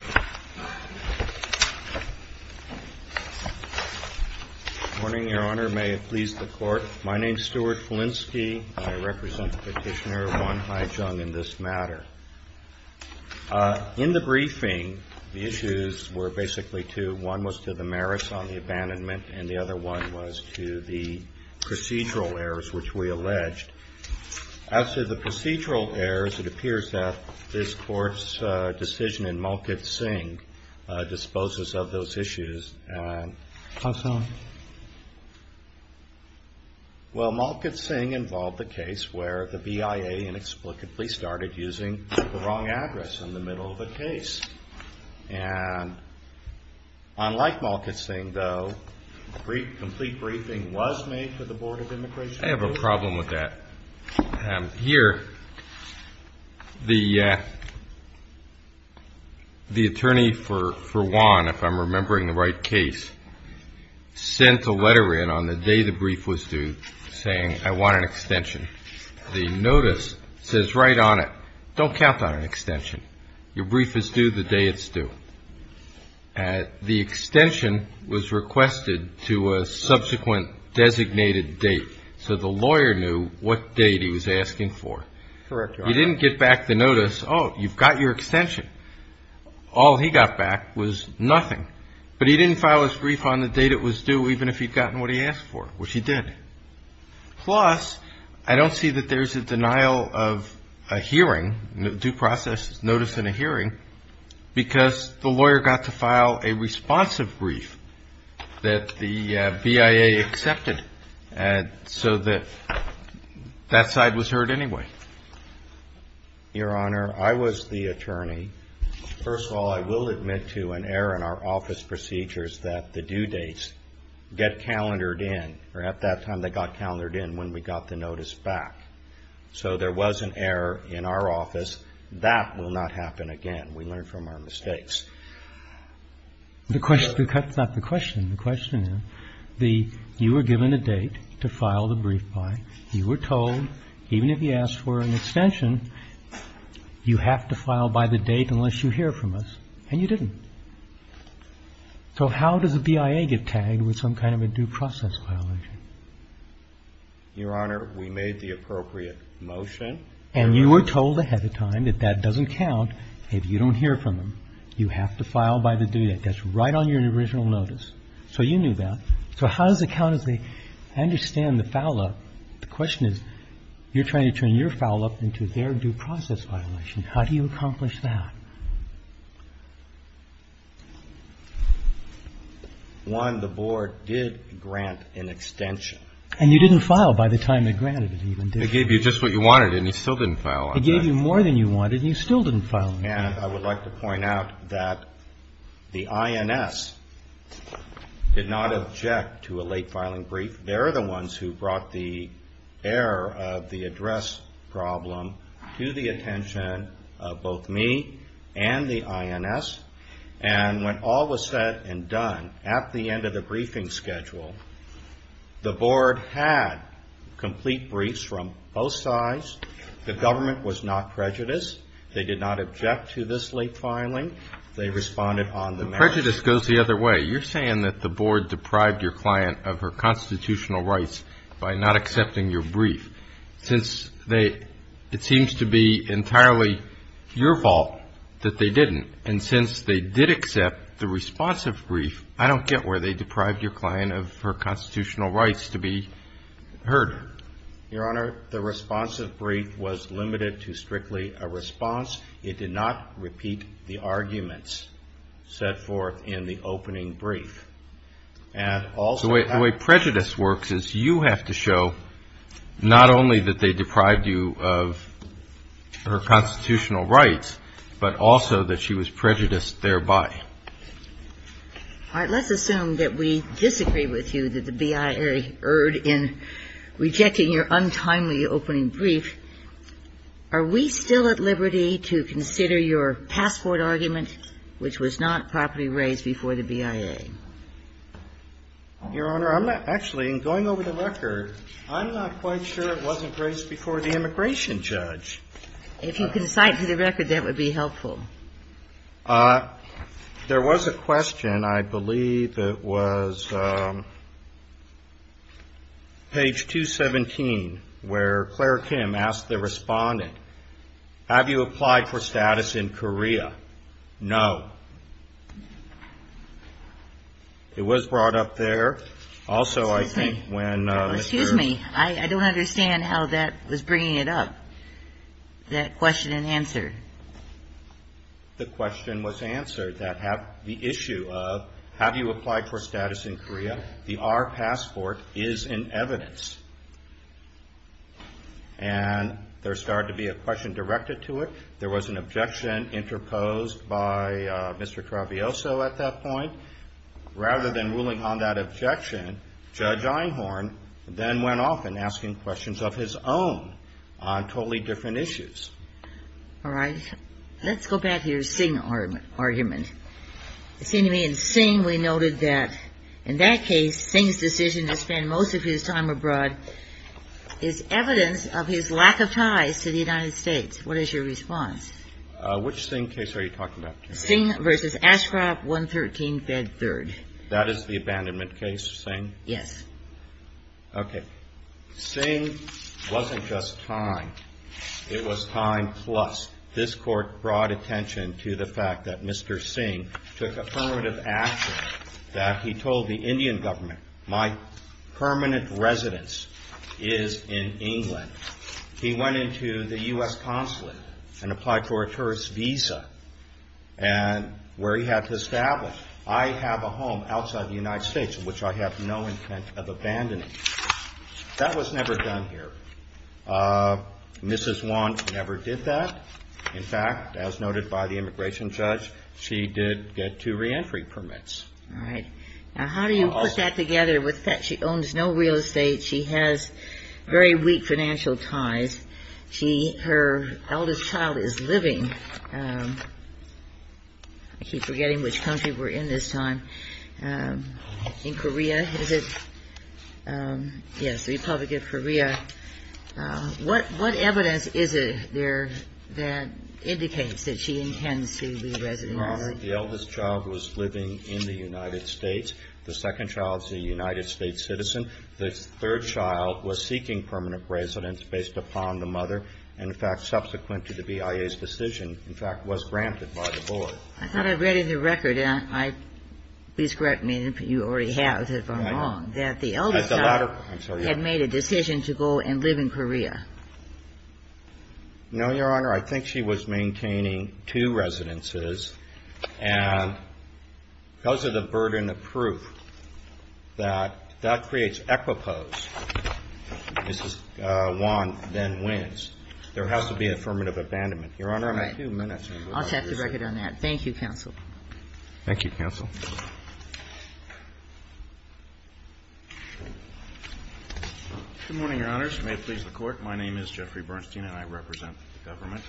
Good morning, Your Honor. May it please the Court, my name is Stuart Felinski, and I represent the Petitioner, Wan Hai-Chung, in this matter. In the briefing, the issues were basically two. One was to the merits on the abandonment, and the other one was to the procedural errors which we alleged. As to the procedural errors, it appears that this Court's decision in Malkit-Singh disposes of those issues. How so? Well, Malkit-Singh involved the case where the BIA inexplicably started using the wrong address in the middle of a case. Unlike Malkit-Singh, though, a complete briefing was made to the Board of Immigration. I have a problem with that. Here, the attorney for Wan, if I'm remembering the right case, sent a letter in on the day the brief was due saying, I want an extension. The notice says right on it, don't count on an extension. Your brief is due the day it's due. The extension was requested to a subsequent designated date, so the lawyer knew what date he was asking for. Correct, Your Honor. He didn't get back the notice, oh, you've got your extension. All he got back was nothing. But he didn't file his brief on the date it was due, even if he'd gotten what he asked for, which he did. Plus, I don't see that there's a denial of a hearing, due process notice in a hearing, because the lawyer got to file a responsive brief that the BIA accepted, so that that side was heard anyway. Your Honor, I was the attorney. First of all, I will admit to an error in our office procedures that the due dates get calendared in, or at that time they got calendared in when we got the notice back. So there was an error in our office. That will not happen again. We learn from our mistakes. The question, that's not the question. The question is, you were given a date to file the brief by, you were told, even if you asked for an extension, you have to file by the date unless you hear from us, and you didn't. So how does a BIA get tagged with some kind of a due process violation? Your Honor, we made the appropriate motion. And you were told ahead of time that that doesn't count if you don't hear from them. You have to file by the due date. That's right on your original notice. So you knew that. So how does it count as they understand the foul-up? The question is, you're trying to turn your foul-up into their due process violation. How do you accomplish that? One, the Board did grant an extension. And you didn't file by the time they granted it, even did you? They gave you just what you wanted, and you still didn't file on time. They gave you more than you wanted, and you still didn't file on time. And I would like to point out that the INS did not object to a late-filing brief. They're the ones who brought the error of the address problem to the attention of both me and the INS. And when all was said and done, at the end of the briefing schedule, the Board had complete briefs from both sides. The government was not prejudiced. They did not object to this late filing. They responded on the merits. But prejudice goes the other way. You're saying that the Board deprived your client of her constitutional rights by not accepting your brief. It seems to be entirely your fault that they didn't. And since they did accept the responsive brief, I don't get where they deprived your client of her constitutional rights to be heard. Your Honor, the responsive brief was limited to strictly a response. It did not repeat the arguments set forth in the opening brief. So the way prejudice works is you have to show not only that they deprived you of her constitutional rights, but also that she was prejudiced thereby. All right. Let's assume that we disagree with you that the BIA erred in rejecting your untimely opening brief. Are we still at liberty to consider your passport argument, which was not properly raised before the BIA? Your Honor, I'm not actually, in going over the record, I'm not quite sure it wasn't raised before the immigration judge. If you could cite to the record, that would be helpful. There was a question, I believe it was page 217, where Claire Kim asked the respondent, have you applied for status in Korea? No. It was brought up there. Also, I think when Mr. Excuse me. I don't understand how that was bringing it up, that question and answer. The question was answered, that the issue of have you applied for status in Korea, the R passport is in evidence. And there started to be a question directed to it. There was an objection interposed by Mr. Travioso at that point. Rather than ruling on that objection, Judge Einhorn then went off and asking questions of his own on totally different issues. All right. Let's go back to your Singh argument. It seemed to me in Singh we noted that in that case, Singh's decision to spend most of his time abroad is evidence of his lack of ties to the United States. What is your response? Which Singh case are you talking about? Singh versus Ashcroft 113 Bed 3rd. That is the abandonment case, Singh? Yes. Okay. Singh wasn't just time. It was time plus. This court brought attention to the fact that Mr. Singh took affirmative action that he told the Indian government, my permanent residence is in England. He went into the U.S. consulate and applied for a tourist visa. And where he had to establish, I have a home outside the United States in which I have no intent of abandoning. That was never done here. Mrs. Want never did that. In fact, as noted by the immigration judge, she did get two reentry permits. All right. Now, how do you put that together with that? She owns no real estate. She has very weak financial ties. Her eldest child is living. I keep forgetting which country we're in this time. In Korea, is it? Yes, the Republic of Korea. What evidence is there that indicates that she intends to leave residence? The eldest child was living in the United States. The second child is a United States citizen. The third child was seeking permanent residence based upon the mother, and in fact, subsequent to the BIA's decision, in fact, was granted by the board. I thought I read in the record, and please correct me if you already have if I'm wrong, that the eldest child had made a decision to go and live in Korea. No, Your Honor. I think she was maintaining two residences, and because of the burden of proof that that creates equipoise, Mrs. Wan then wins. There has to be affirmative abandonment. Your Honor, I have a few minutes. I'll check the record on that. Thank you, counsel. Thank you, counsel. Good morning, Your Honors. May it please the Court. My name is Jeffrey Bernstein, and I represent the government.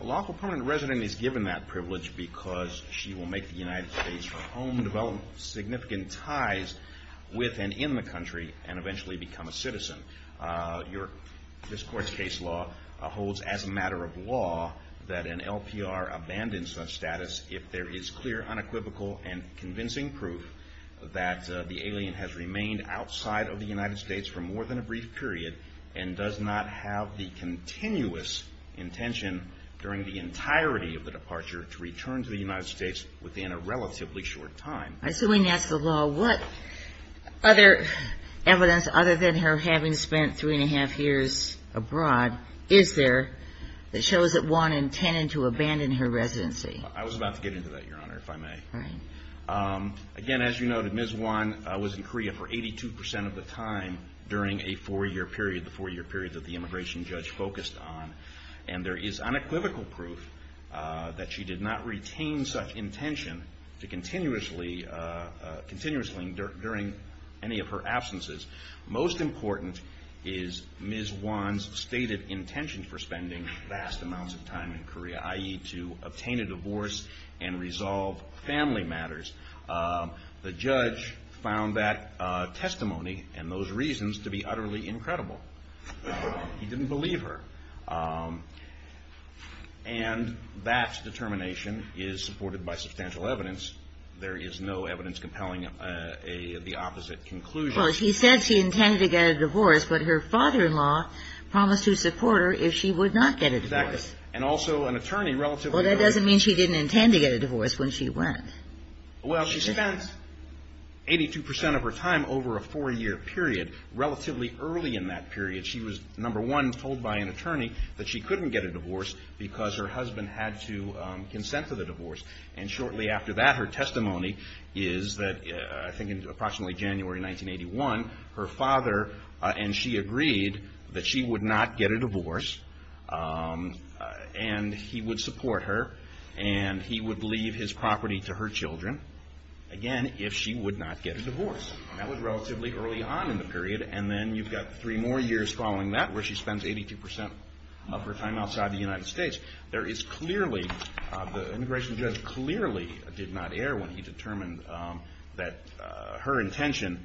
A lawful permanent resident is given that privilege because she will make the United States her home, develop significant ties with and in the country, and eventually become a citizen. This Court's case law holds as a matter of law that an LPR abandons such status if there is clear, unequivocal, and convincing proof that the alien has remained outside of the United States for more than a brief period and does not have the continuous intention during the entirety of the departure to return to the United States within a relatively short time. Assuming that's the law, what other evidence, other than her having spent three and a half years abroad, is there that shows that Wan intended to abandon her residency? I was about to get into that, Your Honor, if I may. Again, as you noted, Ms. Wan was in Korea for 82% of the time during a four-year period, the four-year period that the immigration judge focused on, and there is unequivocal proof that she did not retain such intention continuously during any of her absences. Most important is Ms. Wan's stated intention for spending vast amounts of time in Korea, i.e., to obtain a divorce and resolve family matters. The judge found that testimony and those reasons to be utterly incredible. He didn't believe her. And that determination is supported by substantial evidence. There is no evidence compelling the opposite conclusion. He said she intended to get a divorce, but her father-in-law promised to support her if she would not get a divorce. And also an attorney relatively early. Well, that doesn't mean she didn't intend to get a divorce when she went. Well, she spent 82% of her time over a four-year period. Relatively early in that period, she was, number one, told by an attorney that she couldn't get a divorce because her husband had to consent to the divorce. And shortly after that, her testimony is that I think in approximately January 1981, her father and she agreed that she would not get a divorce and he would support her and he would leave his property to her children, again, if she would not get a divorce. That was relatively early on in the period. And then you've got three more years following that where she spends 82% of her time outside the United States. There is clearly, the immigration judge clearly did not err when he determined that her intention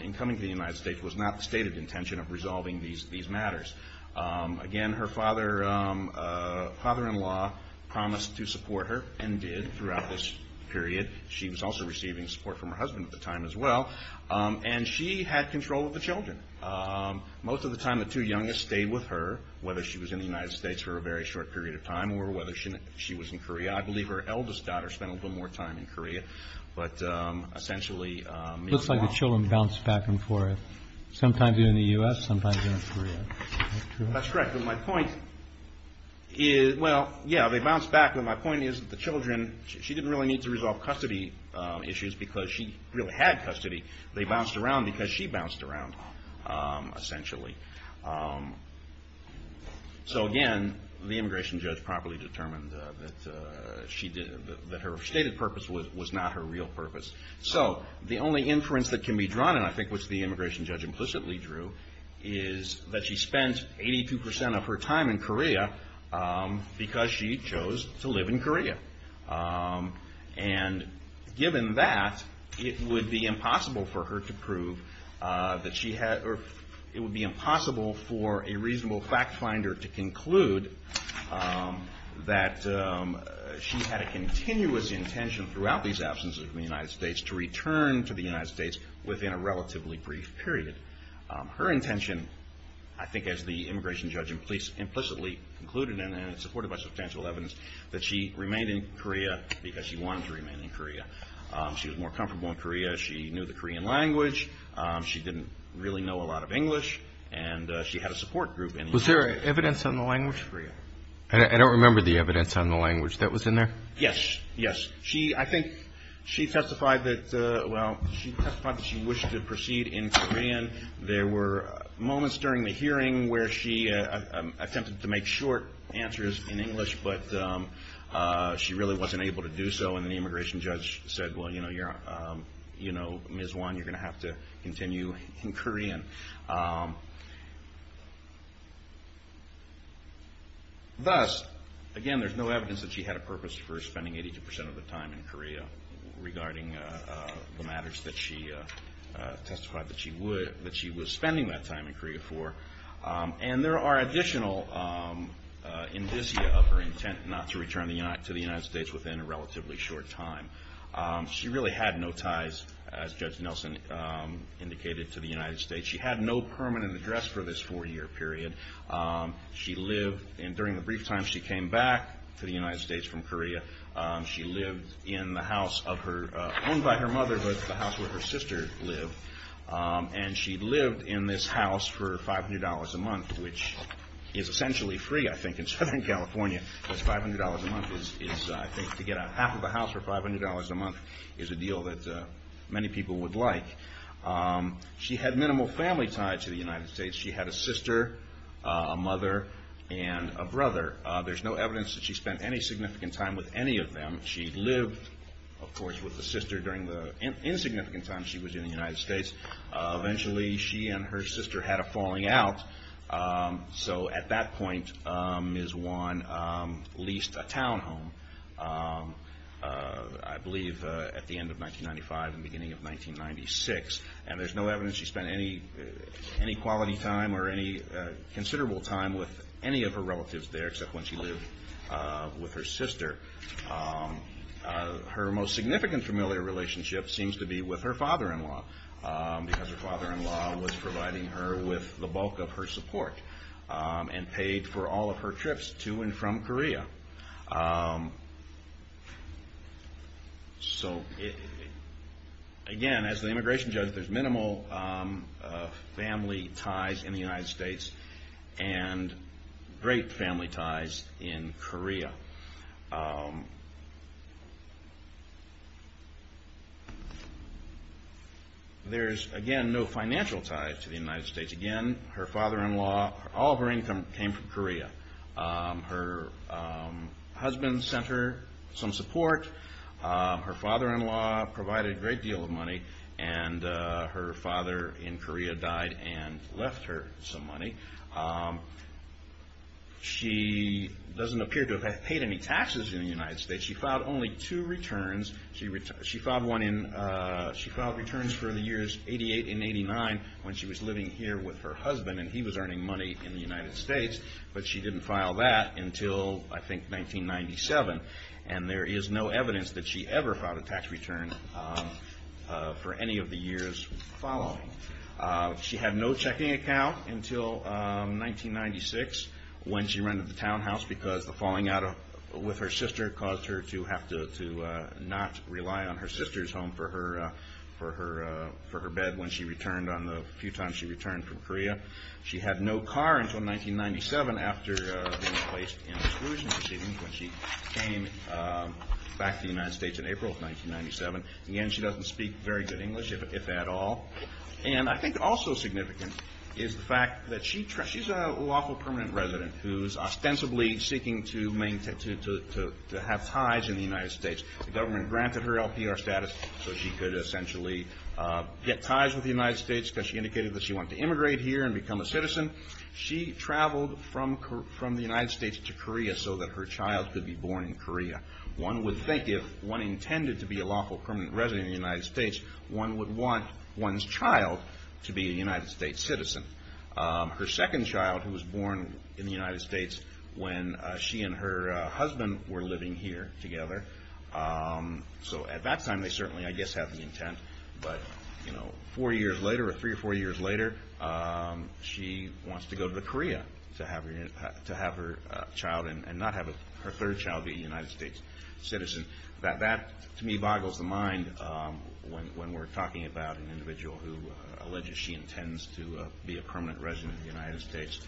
in coming to the United States was not the stated intention of resolving these matters. Again, her father-in-law promised to support her and did throughout this period. She was also receiving support from her husband at the time as well. And she had control of the children. Most of the time, the two youngest stayed with her, whether she was in the United States for a very short period of time or whether she was in Korea. I believe her eldest daughter spent a little bit more time in Korea. But essentially... Looks like the children bounced back and forth, sometimes in the U.S., sometimes in Korea. That's correct. But my point is, well, yeah, they bounced back. But my point is that the children, she didn't really need to resolve custody issues because she really had custody. They bounced around because she bounced around, essentially. So again, the immigration judge properly determined that her stated purpose was not her real purpose. So the only inference that can be drawn, and I think which the immigration judge implicitly drew, is that she spent 82% of her time in Korea because she chose to live in Korea. And given that, it would be impossible for her to prove that she had... It would be impossible for a reasonable fact finder to conclude that she had a continuous intention throughout these absences from the United States to return to the United States within a relatively brief period. Her intention, I think as the immigration judge implicitly concluded, and supported by substantial evidence, that she remained in Korea because she wanted to remain in Korea. She was more comfortable in Korea. She knew the Korean language. She didn't really know a lot of English, and she had a support group in Korea. Was there evidence on the language? I don't remember the evidence on the language that was in there. Yes, yes. I think she testified that, well, she testified that she wished to proceed in Korean. There were moments during the hearing where she attempted to make short answers in English, but she really wasn't able to do so, and the immigration judge said, well, you know, Ms. Won, you're going to have to continue in Korean. Thus, again, there's no evidence that she had a purpose for spending 82% of the time in Korea regarding the matters that she testified that she was spending that time in Korea for, and there are additional indicia of her intent not to return to the United States within a relatively short time. She really had no ties, as Judge Nelson indicated, to the United States. She had no permanent address for this four-year period. She lived, and during the brief time she came back to the United States from Korea, she lived in the house of her, owned by her mother, but the house where her sister lived, and she lived in this house for $500 a month, which is essentially free, I think, in Southern California, because $500 a month is, I think, to get out half of a house for $500 a month is a deal that many people would like. She had minimal family ties to the United States. She had a sister, a mother, and a brother. There's no evidence that she spent any significant time with any of them. She lived, of course, with the sister during the insignificant time she was in the United States. Eventually, she and her sister had a falling out, so at that point, Ms. Wan leased a townhome, I believe at the end of 1995 and beginning of 1996, and there's no evidence she spent any quality time or any considerable time with any of her relatives there except when she lived with her sister. Her most significant familial relationship seems to be with her father-in-law, because her father-in-law was providing her with the bulk of her support and paid for all of her trips to and from Korea. So, again, as the immigration judge, there's minimal family ties in the United States and great family ties in Korea. There's, again, no financial ties to the United States. Again, her father-in-law, all of her income came from Korea. Her husband sent her some support. Her father-in-law provided a great deal of money, and her father in Korea died and left her some money. She doesn't appear to have paid any taxes in the United States. She filed only two returns. She filed returns for the years 88 and 89 when she was living here with her husband, and he was earning money in the United States, but she didn't file that until, I think, 1997, and there is no evidence that she ever filed a tax return for any of the years following. She had no checking account until 1996 when she rented the townhouse because the falling out with her sister caused her to have to not rely on her sister's home for her bed when she returned on the few times she returned from Korea. She had no car until 1997 after being placed in a reclusion receiving when she came back to the United States in April of 1997. Again, she doesn't speak very good English, if at all, and I think also significant is the fact that she's a lawful permanent resident who's ostensibly seeking to have ties in the United States. The government granted her LPR status so she could essentially get ties with the United States because she indicated that she wanted to immigrate here and become a citizen. She traveled from the United States to Korea so that her child could be born in Korea. One would think if one intended to be a lawful permanent resident in the United States, one would want one's child to be a United States citizen. Her second child, who was born in the United States when she and her husband were living here together, so at that time they certainly, I guess, had the intent, but four years later or three or four years later, she wants to go to Korea to have her child and not have her third child be a United States citizen. That, to me, boggles the mind when we're talking about an individual who alleges she intends to be a permanent resident of the United States.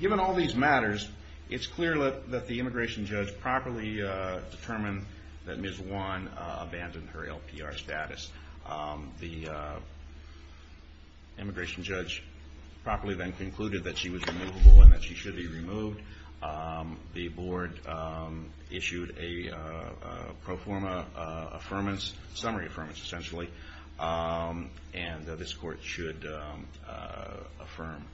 Given all these matters, it's clear that the immigration judge properly determined that Ms. Won abandoned her LPR status. The immigration judge properly then concluded that she was removable and that she should be removed. The board issued a pro forma summary affirmance, essentially, and this court should affirm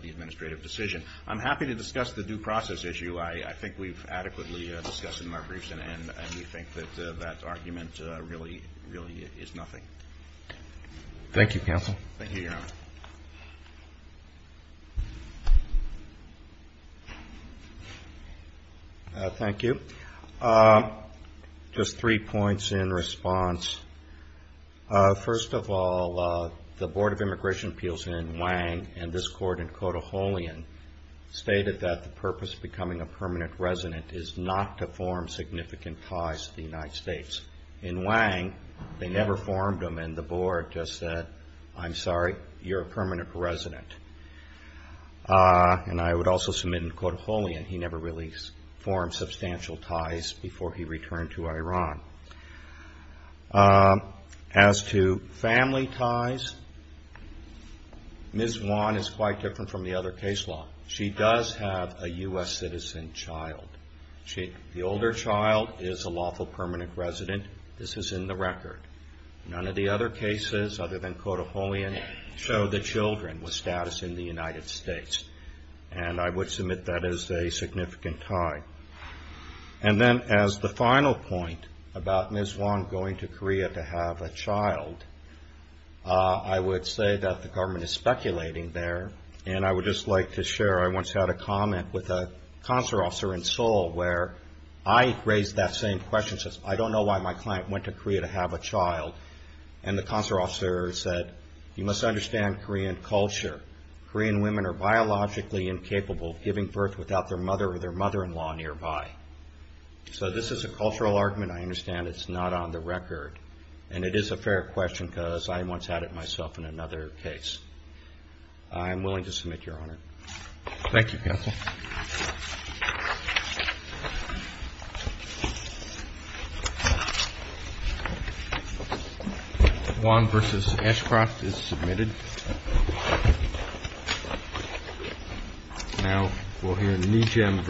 the administrative decision. I'm happy to discuss the due process issue. I think we've adequately discussed it in our briefs, and we think that that argument really is nothing. Thank you, counsel. Thank you, Your Honor. Thank you. Just three points in response. First of all, the Board of Immigration Appeals in Wang and this court in Cotaholion stated that the purpose of becoming a permanent resident is not to form significant ties to the United States. In Wang, they never formed them, and the Board just said, I'm sorry, you're a permanent resident. And I would also submit in Cotaholion, he never really formed substantial ties before he returned to Iran. As to family ties, Ms. Won is quite different from the other case law. She does have a U.S. citizen child. The older child is a lawful permanent resident. This is in the record. None of the other cases other than Cotaholion show the children with status in the United States, and I would submit that is a significant tie. And then as the final point about Ms. Won going to Korea to have a child, I would say that the government is speculating there, and I would just like to share I once had a comment with a consular officer in Seoul where I raised that same question. I said, I don't know why my client went to Korea to have a child, and the consular officer said, you must understand Korean culture. Korean women are biologically incapable of giving birth without their mother or their mother-in-law nearby. So this is a cultural argument. I understand it's not on the record. And it is a fair question because I once had it myself in another case. I am willing to submit, Your Honor. Thank you, Counsel. Thank you. Won v. Ashcroft is submitted. Now we'll hear Nijam v. Ashcroft.